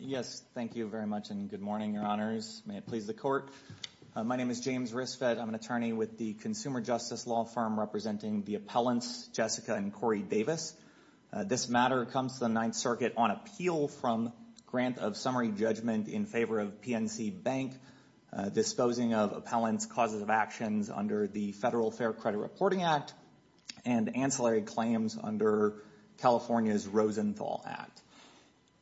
Yes, thank you very much and good morning, your honors. May it please the court. My name is James Risfet. I'm an attorney with the Consumer Justice Law Firm representing the appellants Jessica and Corey Davis. This matter comes to the Ninth Circuit on appeal from grant of summary judgment in favor of PNC Bank disposing of appellant's causes of actions under the Federal Fair Credit Reporting Act and ancillary claims under California's Rosenthal Act.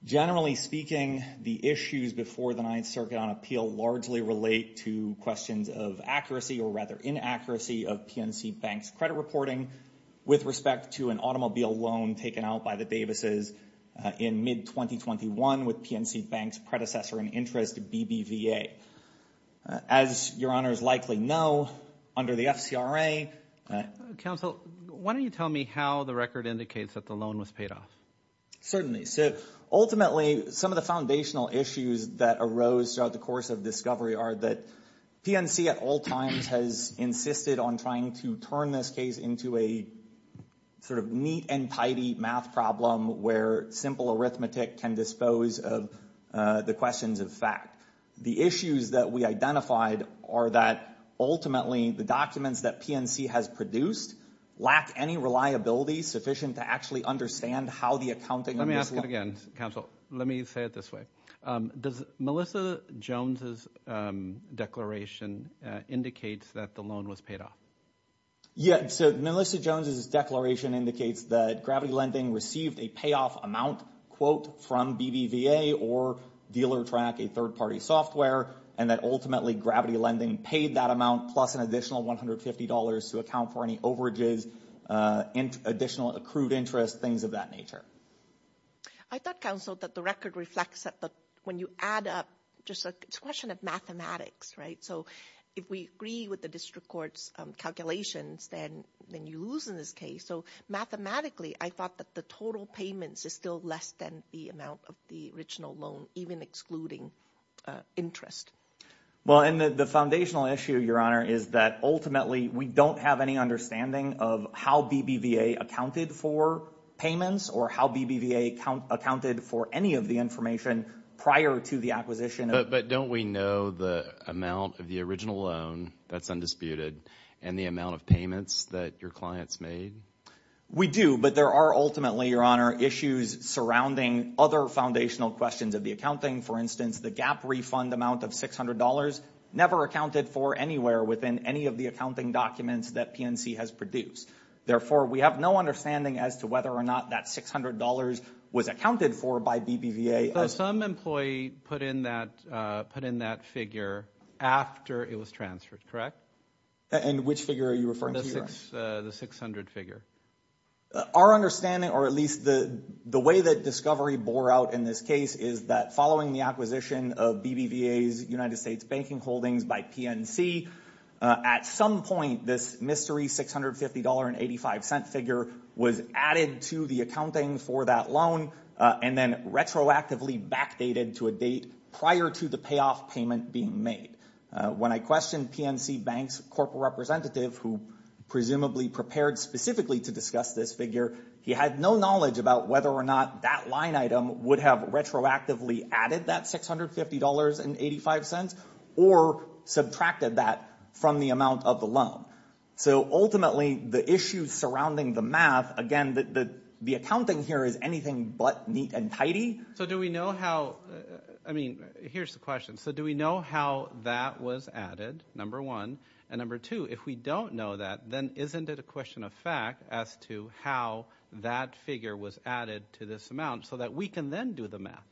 Generally speaking, the issues before the Ninth Circuit on appeal largely relate to questions of accuracy or rather inaccuracy of PNC Bank's credit reporting with respect to an automobile loan taken out by the Davises in mid-2021 with PNC Bank's predecessor in the interest of BBVA. As your honors likely know, under the FCRA... Counsel, why don't you tell me how the record indicates that the loan was paid off? Certainly. So, ultimately, some of the foundational issues that arose throughout the course of discovery are that PNC at all times has insisted on trying to turn this case into a sort of math problem where simple arithmetic can dispose of the questions of fact. The issues that we identified are that ultimately the documents that PNC has produced lack any reliability sufficient to actually understand how the accounting... Let me ask it again, Counsel. Let me say it this way. Does Melissa Jones's declaration indicate that the loan was paid off? Yeah. So, Melissa Jones's declaration indicates that Gravity Lending received a payoff amount quote from BBVA or dealer track, a third-party software, and that ultimately Gravity Lending paid that amount plus an additional $150 to account for any overages, additional accrued interest, things of that nature. I thought, Counsel, that the record reflects that when you add up... It's a question of mathematics, right? So, if we agree with the district court's calculations, then you lose in this case. So, mathematically, I thought that the total payments is still less than the amount of the original loan, even excluding interest. Well, and the foundational issue, Your Honor, is that ultimately we don't have any understanding of how BBVA accounted for payments or how BBVA accounted for any of the information prior to the acquisition. But don't we know the amount of the original loan that's undisputed and the amount of payments that your clients made? We do, but there are ultimately, Your Honor, issues surrounding other foundational questions of the accounting. For instance, the gap refund amount of $600 never accounted for anywhere within any of the accounting documents that PNC has produced. Therefore, we have no understanding as to whether or not that $600 was accounted for by BBVA. But some employee put in that figure after it was transferred, correct? And which figure are you referring to, Your Honor? The 600 figure. Our understanding, or at least the way that discovery bore out in this case, is that following the acquisition of BBVA's United States Banking Holdings by PNC, at some point, this mystery $650.85 figure was added to the accounting for that loan and then retroactively backdated to a date prior to the payoff payment being made. When I questioned PNC Bank's corporate representative, who presumably prepared specifically to discuss this figure, he had no knowledge about whether or not that line item would have retroactively added that $650.85 or subtracted that from the amount of the loan. So ultimately, the issues surrounding the math, again, the accounting here is anything but neat and tidy. So do we know how, I mean, here's the question. So do we know how that was added, number one? And number two, if we don't know that, then isn't it a question of fact as to how that figure was added to this amount so that we can then do the math?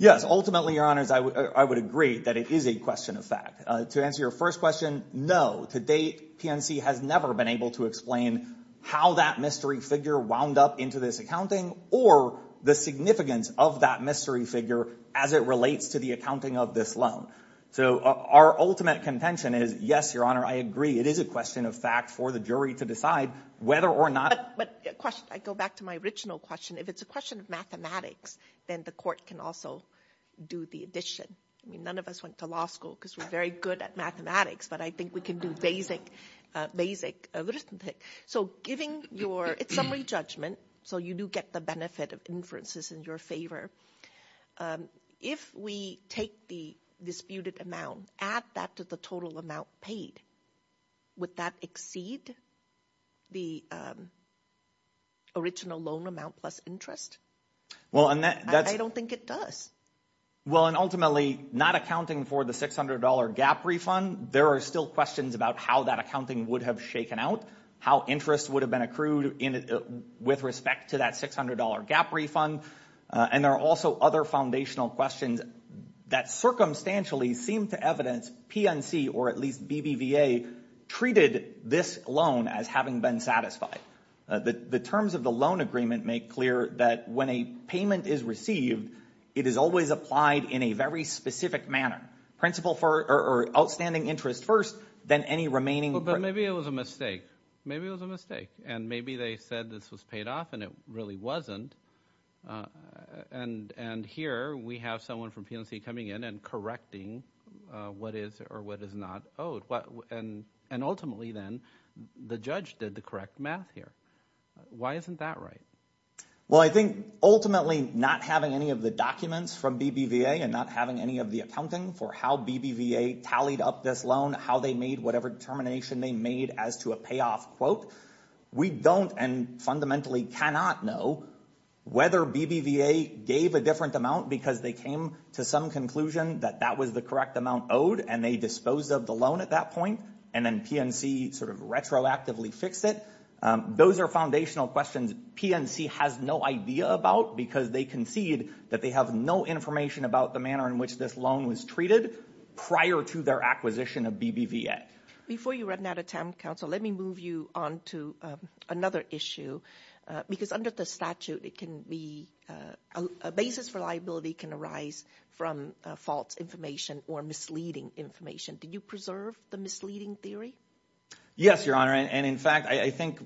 Yes. Ultimately, Your Honors, I would agree that it is a question of fact. To answer your first question, no. To date, PNC has never been able to explain how that mystery figure wound up into this accounting or the significance of that mystery figure as it relates to the accounting of this loan. So our ultimate contention is yes, Your Honor, I agree. It is a question of fact for the jury to decide whether or not. But question, I go back to my original question. If it's a question of mathematics, then the court can also do the addition. I mean, none of us went to law school because we're very good at mathematics, but I think we can do basic arithmetic. So it's summary judgment, so you do get the benefit of inferences in your favor. If we take the disputed amount, add that to the total amount paid, would that exceed the original loan amount plus interest? I don't think it does. Well, and ultimately, not accounting for the $600 gap refund, there are still questions about how that accounting would have shaken out, how interest would have been accrued with respect to that $600 gap refund. And there are also other foundational questions that circumstantially seem to evidence PNC, or at least BBVA, treated this loan as having been satisfied. The terms of the loan agreement make clear that when a payment is received, it is always applied in a very specific manner, outstanding interest first, then any remaining- But maybe it was a mistake. Maybe it was a mistake. And maybe they said this was paid off, and it really wasn't. And here, we have someone from PNC coming in and correcting what is or what is not owed. And ultimately, then, the judge did the correct math here. Why isn't that right? Well, I think ultimately, not having any of the documents from BBVA and not having any of the accounting for how BBVA tallied up this loan, how they made whatever determination they made as to a payoff quote, we don't and fundamentally cannot know whether BBVA gave a different amount because they came to some conclusion that that was the correct amount owed, and they disposed of the loan at that point, and then PNC sort of retroactively fixed it. Those are foundational questions PNC has no idea about, because they concede that they have no information about the manner in which this loan was treated prior to their acquisition of BBVA. Before you run out of time, counsel, let me move you on to another issue. Because under the statute, a basis for liability can arise from false information or misleading information. Did you preserve the misleading theory? Yes, Your Honor. And in fact, I think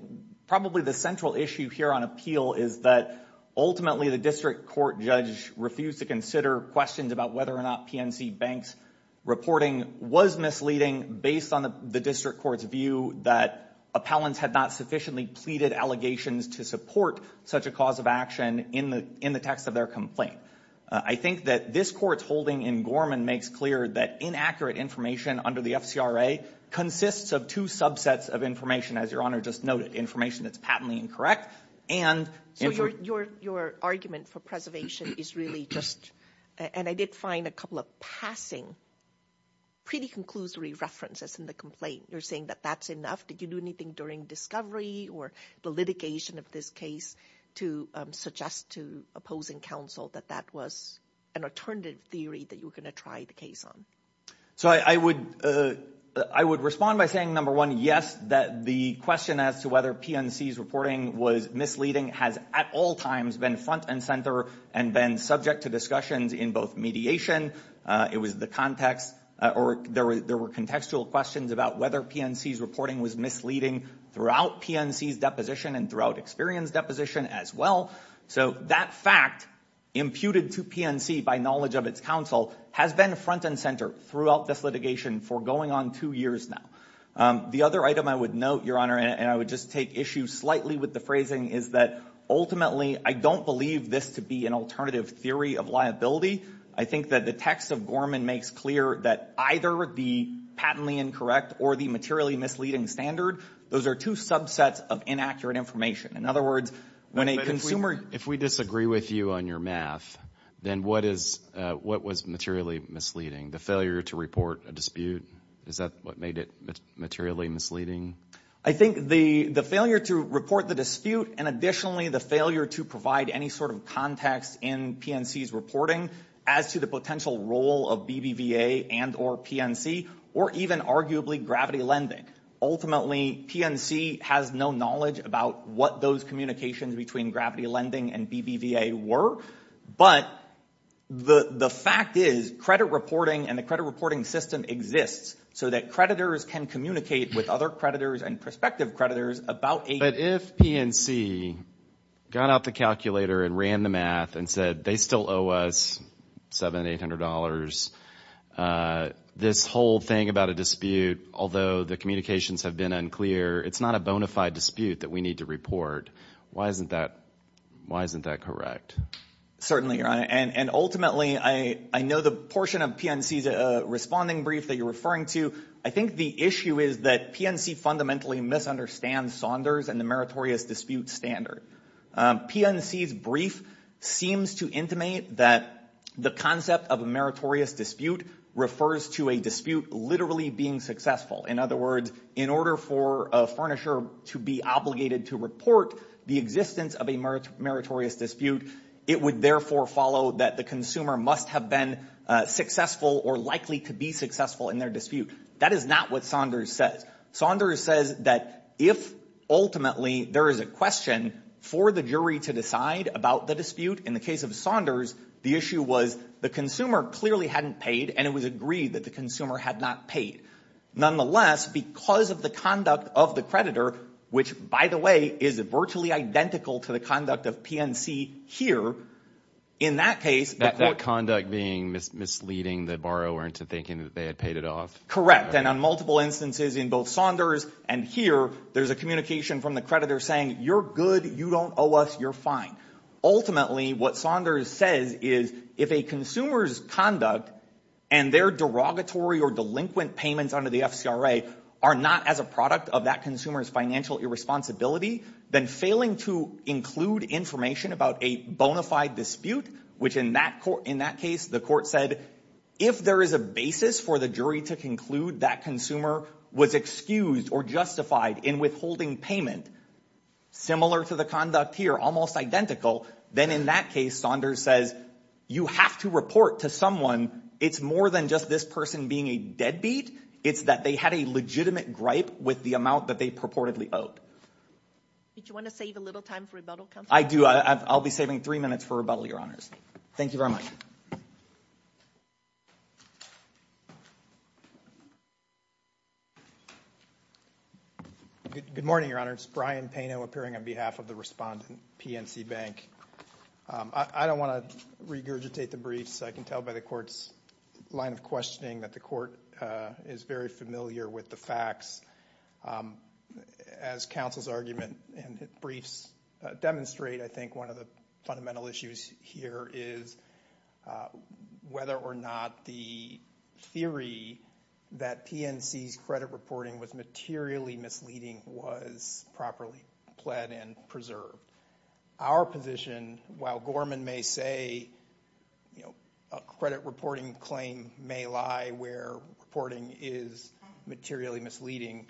probably the central issue here on appeal is that ultimately, the district court judge refused to consider questions about whether or not PNC Bank's reporting was misleading based on the district court's view that appellants had not sufficiently pleaded allegations to support such a cause of action in the text of their complaint. I think that this court's holding in Gorman makes clear that inaccurate information under the FCRA consists of two subsets of information, as Your Honor just noted, information that's patently incorrect and... So your argument for preservation is really just and I did find a couple of passing, pretty conclusory references in the complaint. You're saying that that's enough? Did you do anything during discovery or the litigation of this case to suggest to opposing counsel that that was an alternative theory that you were going to try the case on? So I would respond by saying, number one, yes, that the question as to whether PNC's reporting was misleading has at all times been front and center and been subject to discussions in both mediation, it was the context, or there were contextual questions about whether PNC's reporting was misleading throughout PNC's deposition and throughout Experian's deposition as well. So that fact imputed to PNC by knowledge of its counsel has been front and center throughout this litigation for going on two years now. The other item I would note, Your Honor, and I would just take issue slightly with the phrasing is that ultimately, I don't believe this to be an alternative theory of liability. I think that the text of Gorman makes clear that either the patently incorrect or the materially misleading standard, those are two subsets of inaccurate information. In other words, when a consumer... But if we disagree with you on your math, then what was materially misleading? The failure to report a dispute? Is that what made it materially misleading? I think the failure to report the dispute and additionally, the failure to provide any sort of context in PNC's reporting as to the potential role of BBVA and or PNC, or even arguably gravity lending. Ultimately, PNC has no knowledge about what those communications between gravity lending and BBVA were, but the fact is credit reporting and the credit reporting system exists so that creditors can communicate with other creditors and prospective creditors about... But if PNC got out the calculator and ran the math and said, they still owe us $700, $800, this whole thing about a dispute, although the communications have been unclear, it's not a bona fide dispute that we need to report. Why isn't that correct? Certainly, Your Honor. And ultimately, I know the portion of PNC's responding brief that you're misunderstand Saunders and the meritorious dispute standard. PNC's brief seems to intimate that the concept of a meritorious dispute refers to a dispute literally being successful. In other words, in order for a furnisher to be obligated to report the existence of a meritorious dispute, it would therefore follow that the consumer must have been successful or likely to be successful in their dispute. That is not what Saunders says. Saunders says that if ultimately there is a question for the jury to decide about the dispute, in the case of Saunders, the issue was the consumer clearly hadn't paid and it was agreed that the consumer had not paid. Nonetheless, because of the conduct of the creditor, which by the way, is virtually identical to the conduct of PNC here, in that case... That conduct being misleading the borrower into thinking that they had paid off. Correct. And on multiple instances in both Saunders and here, there's a communication from the creditor saying, you're good, you don't owe us, you're fine. Ultimately, what Saunders says is if a consumer's conduct and their derogatory or delinquent payments under the FCRA are not as a product of that consumer's financial irresponsibility, then failing to include information about a bona fide dispute, which in that case, the court said, if there is a basis for the jury to conclude that consumer was excused or justified in withholding payment, similar to the conduct here, almost identical, then in that case, Saunders says, you have to report to someone. It's more than just this person being a deadbeat. It's that they had a legitimate gripe with the amount that they reportedly owed. Did you want to save a little time for rebuttal, Counselor? I do. I'll be saving three minutes for rebuttal, Your Honors. Thank you very much. Good morning, Your Honors. Brian Pano appearing on behalf of the respondent, PNC Bank. I don't want to regurgitate the briefs. I can tell by the court's line of questioning that the court is very familiar with the facts. As Counsel's argument and briefs demonstrate, I think one of the fundamental issues here is whether or not the theory that PNC's credit reporting was materially misleading was properly pled and preserved. Our position, while Gorman may say a credit reporting claim may lie where reporting is materially misleading,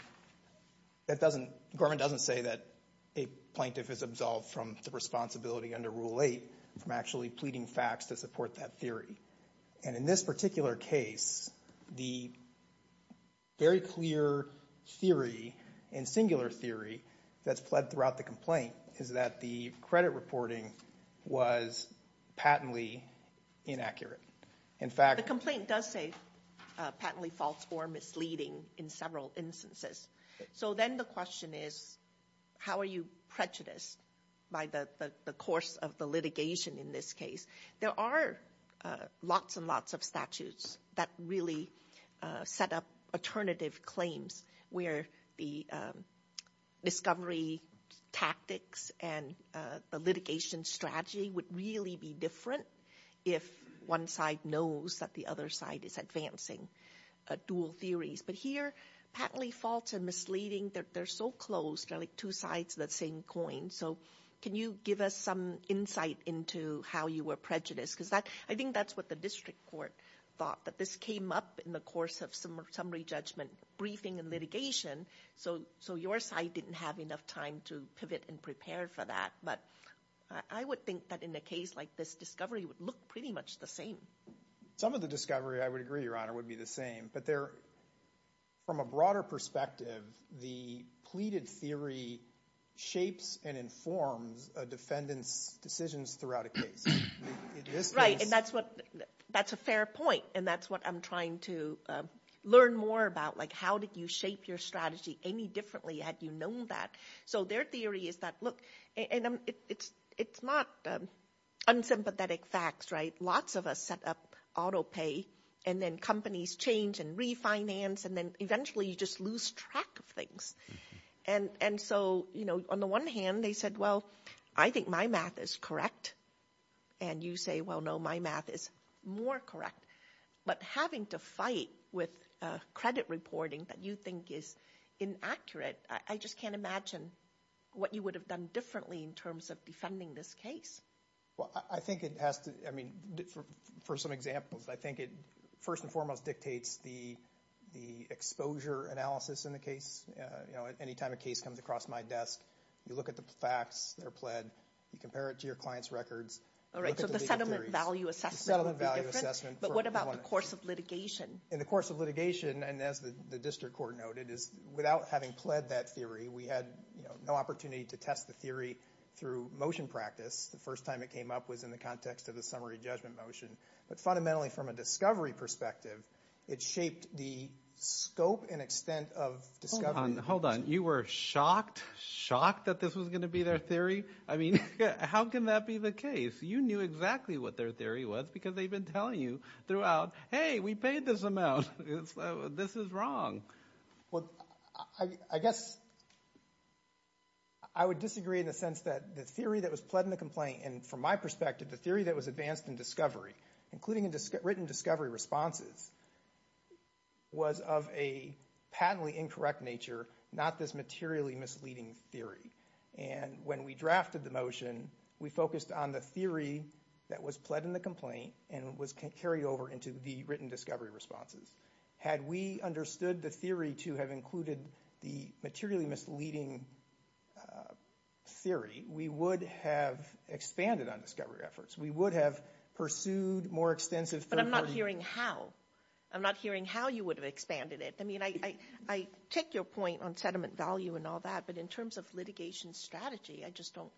Gorman doesn't say that a plaintiff is absolved from the responsibility under Rule 8 from actually pleading facts to support that theory. And in this particular case, the very clear theory and singular theory that's pled throughout the complaint is that the credit reporting was patently inaccurate. In fact, the complaint does say patently false or misleading in several instances. So then the question is, how are you prejudiced by the course of the litigation in this case? There are lots and lots of statutes that really set up alternative claims where the discovery tactics and the litigation strategy would really be different if one side knows that the other side is advancing dual theories. But here, patently false and misleading, they're so close. They're like two sides of the same coin. So can you give us some insight into how you were prejudiced? Because I think that's what the district court thought, that this came up in the course of summary judgment briefing and litigation. So your side didn't have enough time to pivot and prepare for that. But I would think that in a case like this, discovery would look pretty much the same. Some of the discovery, I would agree, Your Honor, would be the same. But from a broader perspective, the pleaded theory shapes and informs a defendant's decisions throughout a case. Right. And that's a fair point. And that's what I'm trying to learn more about. Like, how did you shape your strategy any differently had you known that? So their theory is that, look, and it's not unsympathetic facts, right? Lots of us set up auto pay, and then companies change and refinance, and then eventually you just lose track of things. And so, you know, on the one hand, they said, well, I think my math is correct. And you say, well, no, my math is more correct. But having to fight with credit reporting that you think is inaccurate, I just can't imagine what you would have done differently in terms of defending this case. Well, I think it has to, I mean, for some examples, I think it first and foremost dictates the exposure analysis in the case. You know, any time a case comes across my desk, you look at the facts, they're pled, you compare it to your client's records. All right, so the settlement value assessment would be different, but what about the course of litigation? In the course of litigation, and as the district court noted, is without having pled that theory, we had no opportunity to test the theory through motion practice. The first time it came up was in the context of the summary judgment motion. But fundamentally, from a discovery perspective, it shaped the scope and extent of discovery. Hold on, you were shocked, shocked that this was going to be their theory? I mean, how can that be the case? You knew exactly what their theory was because they've been telling you out, hey, we paid this amount, this is wrong. Well, I guess I would disagree in the sense that the theory that was pled in the complaint, and from my perspective, the theory that was advanced in discovery, including in written discovery responses, was of a patently incorrect nature, not this materially misleading theory. And when we drafted the motion, we focused on the theory that was pled in the complaint and was carried over into the written discovery responses. Had we understood the theory to have included the materially misleading theory, we would have expanded on discovery efforts. We would have pursued more extensive third-party- But I'm not hearing how. I'm not hearing how you would have expanded it. I mean, I take your point on settlement value and all that, but in terms of litigation strategy, I just don't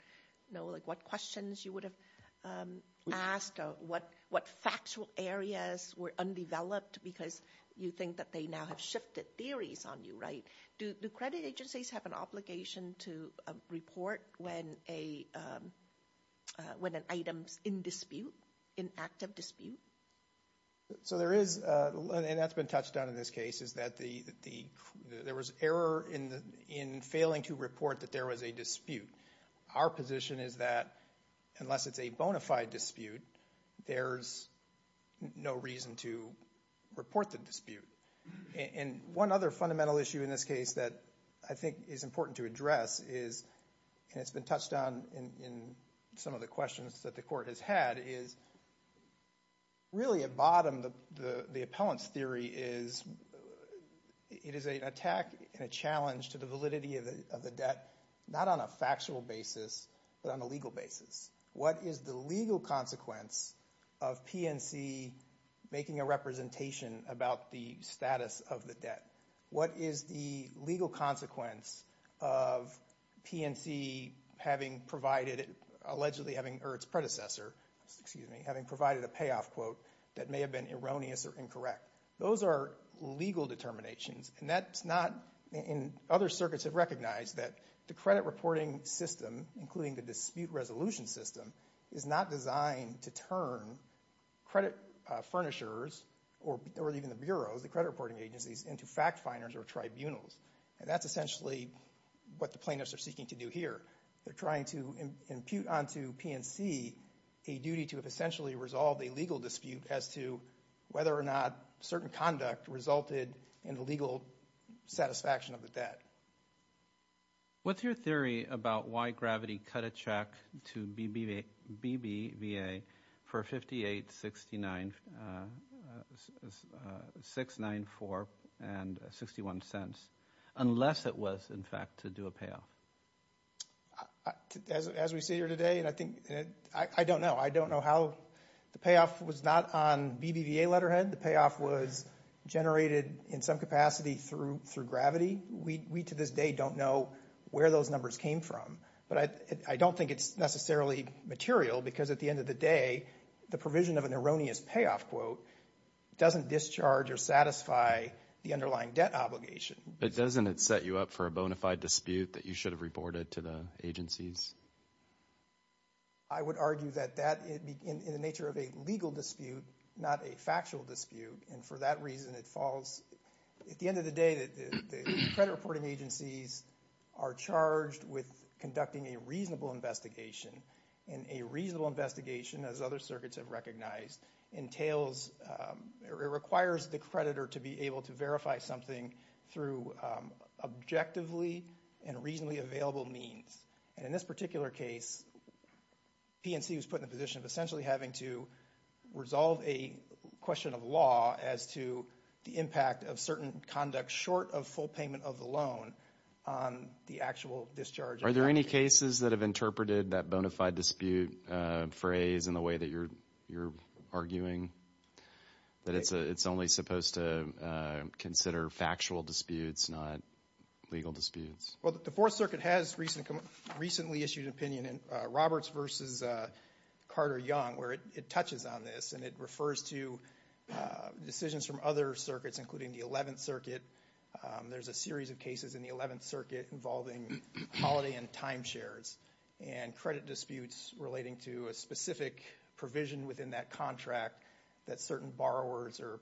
know what questions you would have asked or what factual areas were undeveloped because you think that they now have shifted theories on you, right? Do credit agencies have an obligation to report when an item's in dispute, in active dispute? So there is, and that's been touched on in this case, is that there was error in failing to report that there was a dispute. Our position is that unless it's a bona fide dispute, there's no reason to report the dispute. And one other fundamental issue in this case that I think is important to address is, and it's been touched on in some of the questions that the court has had, is really at bottom, the appellant's theory is it is an attack and a challenge to the validity of the debt, not on a factual basis, but on a legal basis. What is the legal consequence of PNC making a representation about the status of the debt? What is the legal consequence of PNC having provided, allegedly having, or its predecessor, excuse me, having provided a payoff quote that may have been erroneous or incorrect? Those are legal determinations, and that's not, and other circuits have recognized that the credit reporting system, including the dispute resolution system, is not designed to turn credit furnishers, or even the bureaus, the credit reporting agencies, into fact-finders or tribunals. And that's essentially what the plaintiffs are seeking to do here. They're trying to impute onto PNC a duty to have essentially resolved a legal dispute as to whether or not certain conduct resulted in the legal satisfaction of the debt. What's your theory about why Gravity cut a check to BBVA for 58, 69, 694, and 61 cents, unless it was, in fact, to do a payoff? As we sit here today, and I think, I don't know. I don't know how the payoff was not on BBVA letterhead. The payoff was generated, in some capacity, through Gravity. We, to this day, don't know where those numbers came from. But I don't think it's necessarily material, because at the end of the day, the provision of an erroneous payoff quote doesn't discharge or satisfy the underlying debt obligation. But doesn't it set you up for a bona fide dispute that you should have reported to the agencies? I would argue that that, in the nature of a legal dispute, not a factual dispute. And for that reason, it falls, at the end of the day, that the credit reporting agencies are charged with conducting a reasonable investigation. And a reasonable investigation, as other circuits have recognized, entails, it requires the creditor to be able to verify something through objectively and reasonably available means. And in this particular case, PNC was put in the position of essentially having to resolve a question of law as to the impact of certain conduct short of full payment of the loan on the actual discharge. Are there any cases that have interpreted that bona fide dispute phrase in the way that you're arguing? That it's only supposed to consider factual disputes, not legal disputes? Well, the Fourth Circuit has recently issued an opinion in Roberts v. Carter Young, where it touches on this. And it refers to decisions from other circuits, including the Eleventh Circuit. There's a series of cases in the Eleventh Circuit involving holiday and time shares and credit disputes relating to a specific provision within that contract that certain borrowers or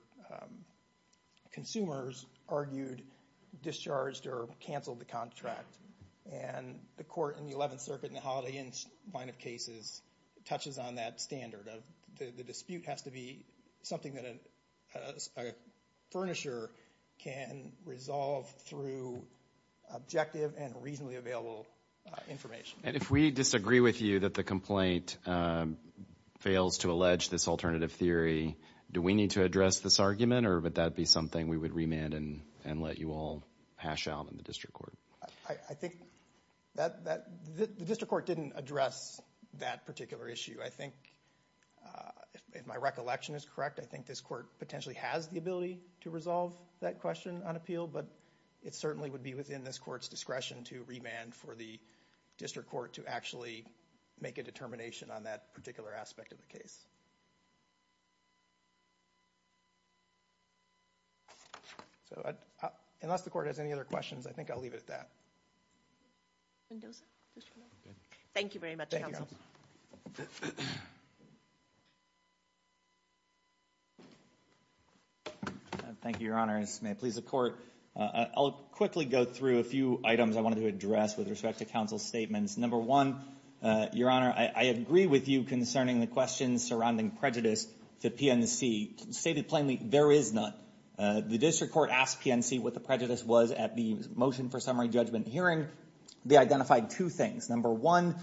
consumers argued discharged or canceled the contract. And the Court in the Eleventh Circuit in the holiday line of cases touches on that standard. The dispute has to be something that a furnisher can resolve through objective and reasonably available information. And if we disagree with you that the complaint fails to allege this alternative theory, do we need to address this argument? Or would that be something we would remand and let you all hash out in the district court? I think the district court didn't address that particular issue. I think, if my recollection is correct, I think this court potentially has the ability to resolve that question on appeal. But it certainly would be within this court's discretion to remand for the district court to actually make a determination on that particular aspect of the case. So unless the Court has any other questions, I think I'll leave it at that. Thank you very much, counsel. Thank you, Your Honor. May it please the Court. I'll quickly go through a few items I wanted to with respect to counsel's statements. Number one, Your Honor, I agree with you concerning the questions surrounding prejudice to PNC. Stated plainly, there is none. The district court asked PNC what the prejudice was at the motion for summary judgment hearing. They identified two things. Number one,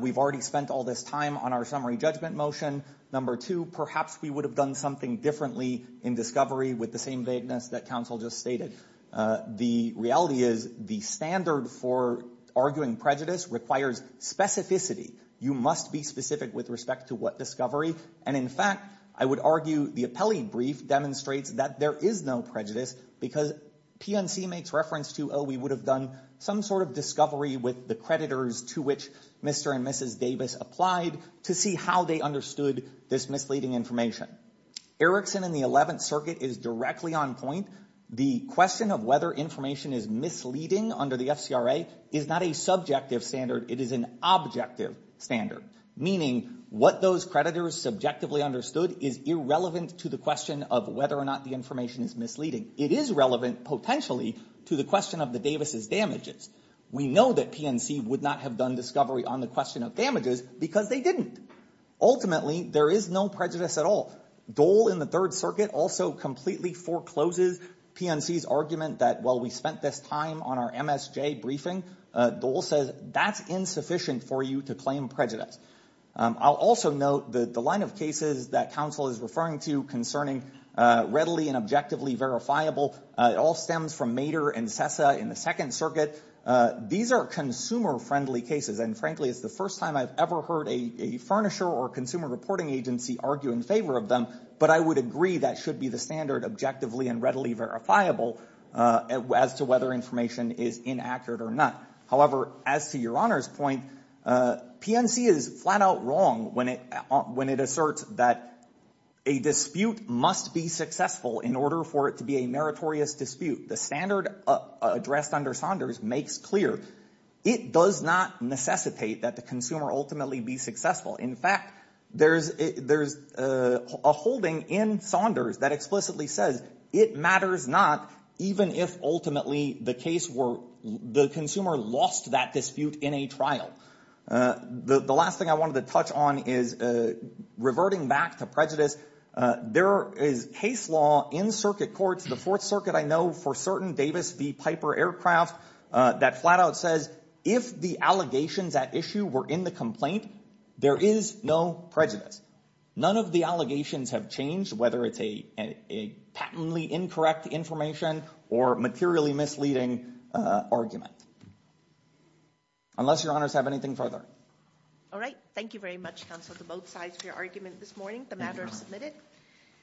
we've already spent all this time on our summary judgment motion. Number two, perhaps we would have done something differently in discovery with the same vagueness that counsel just stated. The reality is the standard for arguing prejudice requires specificity. You must be specific with respect to what discovery. And in fact, I would argue the appellee brief demonstrates that there is no prejudice because PNC makes reference to, oh, we would have done some sort of discovery with the creditors to which Mr. and Mrs. Davis applied to see how they understood this misleading information. Erickson and the Eleventh Circuit is directly on point. The question of whether information is misleading under the FCRA is not a subjective standard. It is an objective standard, meaning what those creditors subjectively understood is irrelevant to the question of whether or not the information is misleading. It is relevant, potentially, to the question of the Davis' damages. We know that PNC would not have done discovery on the damages because they didn't. Ultimately, there is no prejudice at all. Dole in the Third Circuit also completely forecloses PNC's argument that while we spent this time on our MSJ briefing, Dole says that's insufficient for you to claim prejudice. I'll also note that the line of cases that counsel is referring to concerning readily and objectively verifiable, it all stems from in the Second Circuit. These are consumer-friendly cases. And frankly, it's the first time I've ever heard a furnisher or consumer reporting agency argue in favor of them. But I would agree that should be the standard objectively and readily verifiable as to whether information is inaccurate or not. However, as to Your Honor's point, PNC is flat out wrong when it asserts that a dispute must be successful in order for it to be a meritorious dispute. The standard addressed under Saunders makes clear it does not necessitate that the consumer ultimately be successful. In fact, there's a holding in Saunders that explicitly says it matters not even if ultimately the case were the consumer lost that dispute in a trial. The last thing I wanted to touch on is reverting back to prejudice. There is case law in circuit courts, the Fourth Circuit I know for certain Davis v. Piper aircraft, that flat out says if the allegations at issue were in the complaint, there is no prejudice. None of the allegations have changed, whether it's a patently incorrect information or materially misleading argument. Unless Your Honors have anything further. All right. Thank you very much, counsel, to both sides for your argument this morning. The matter is submitted.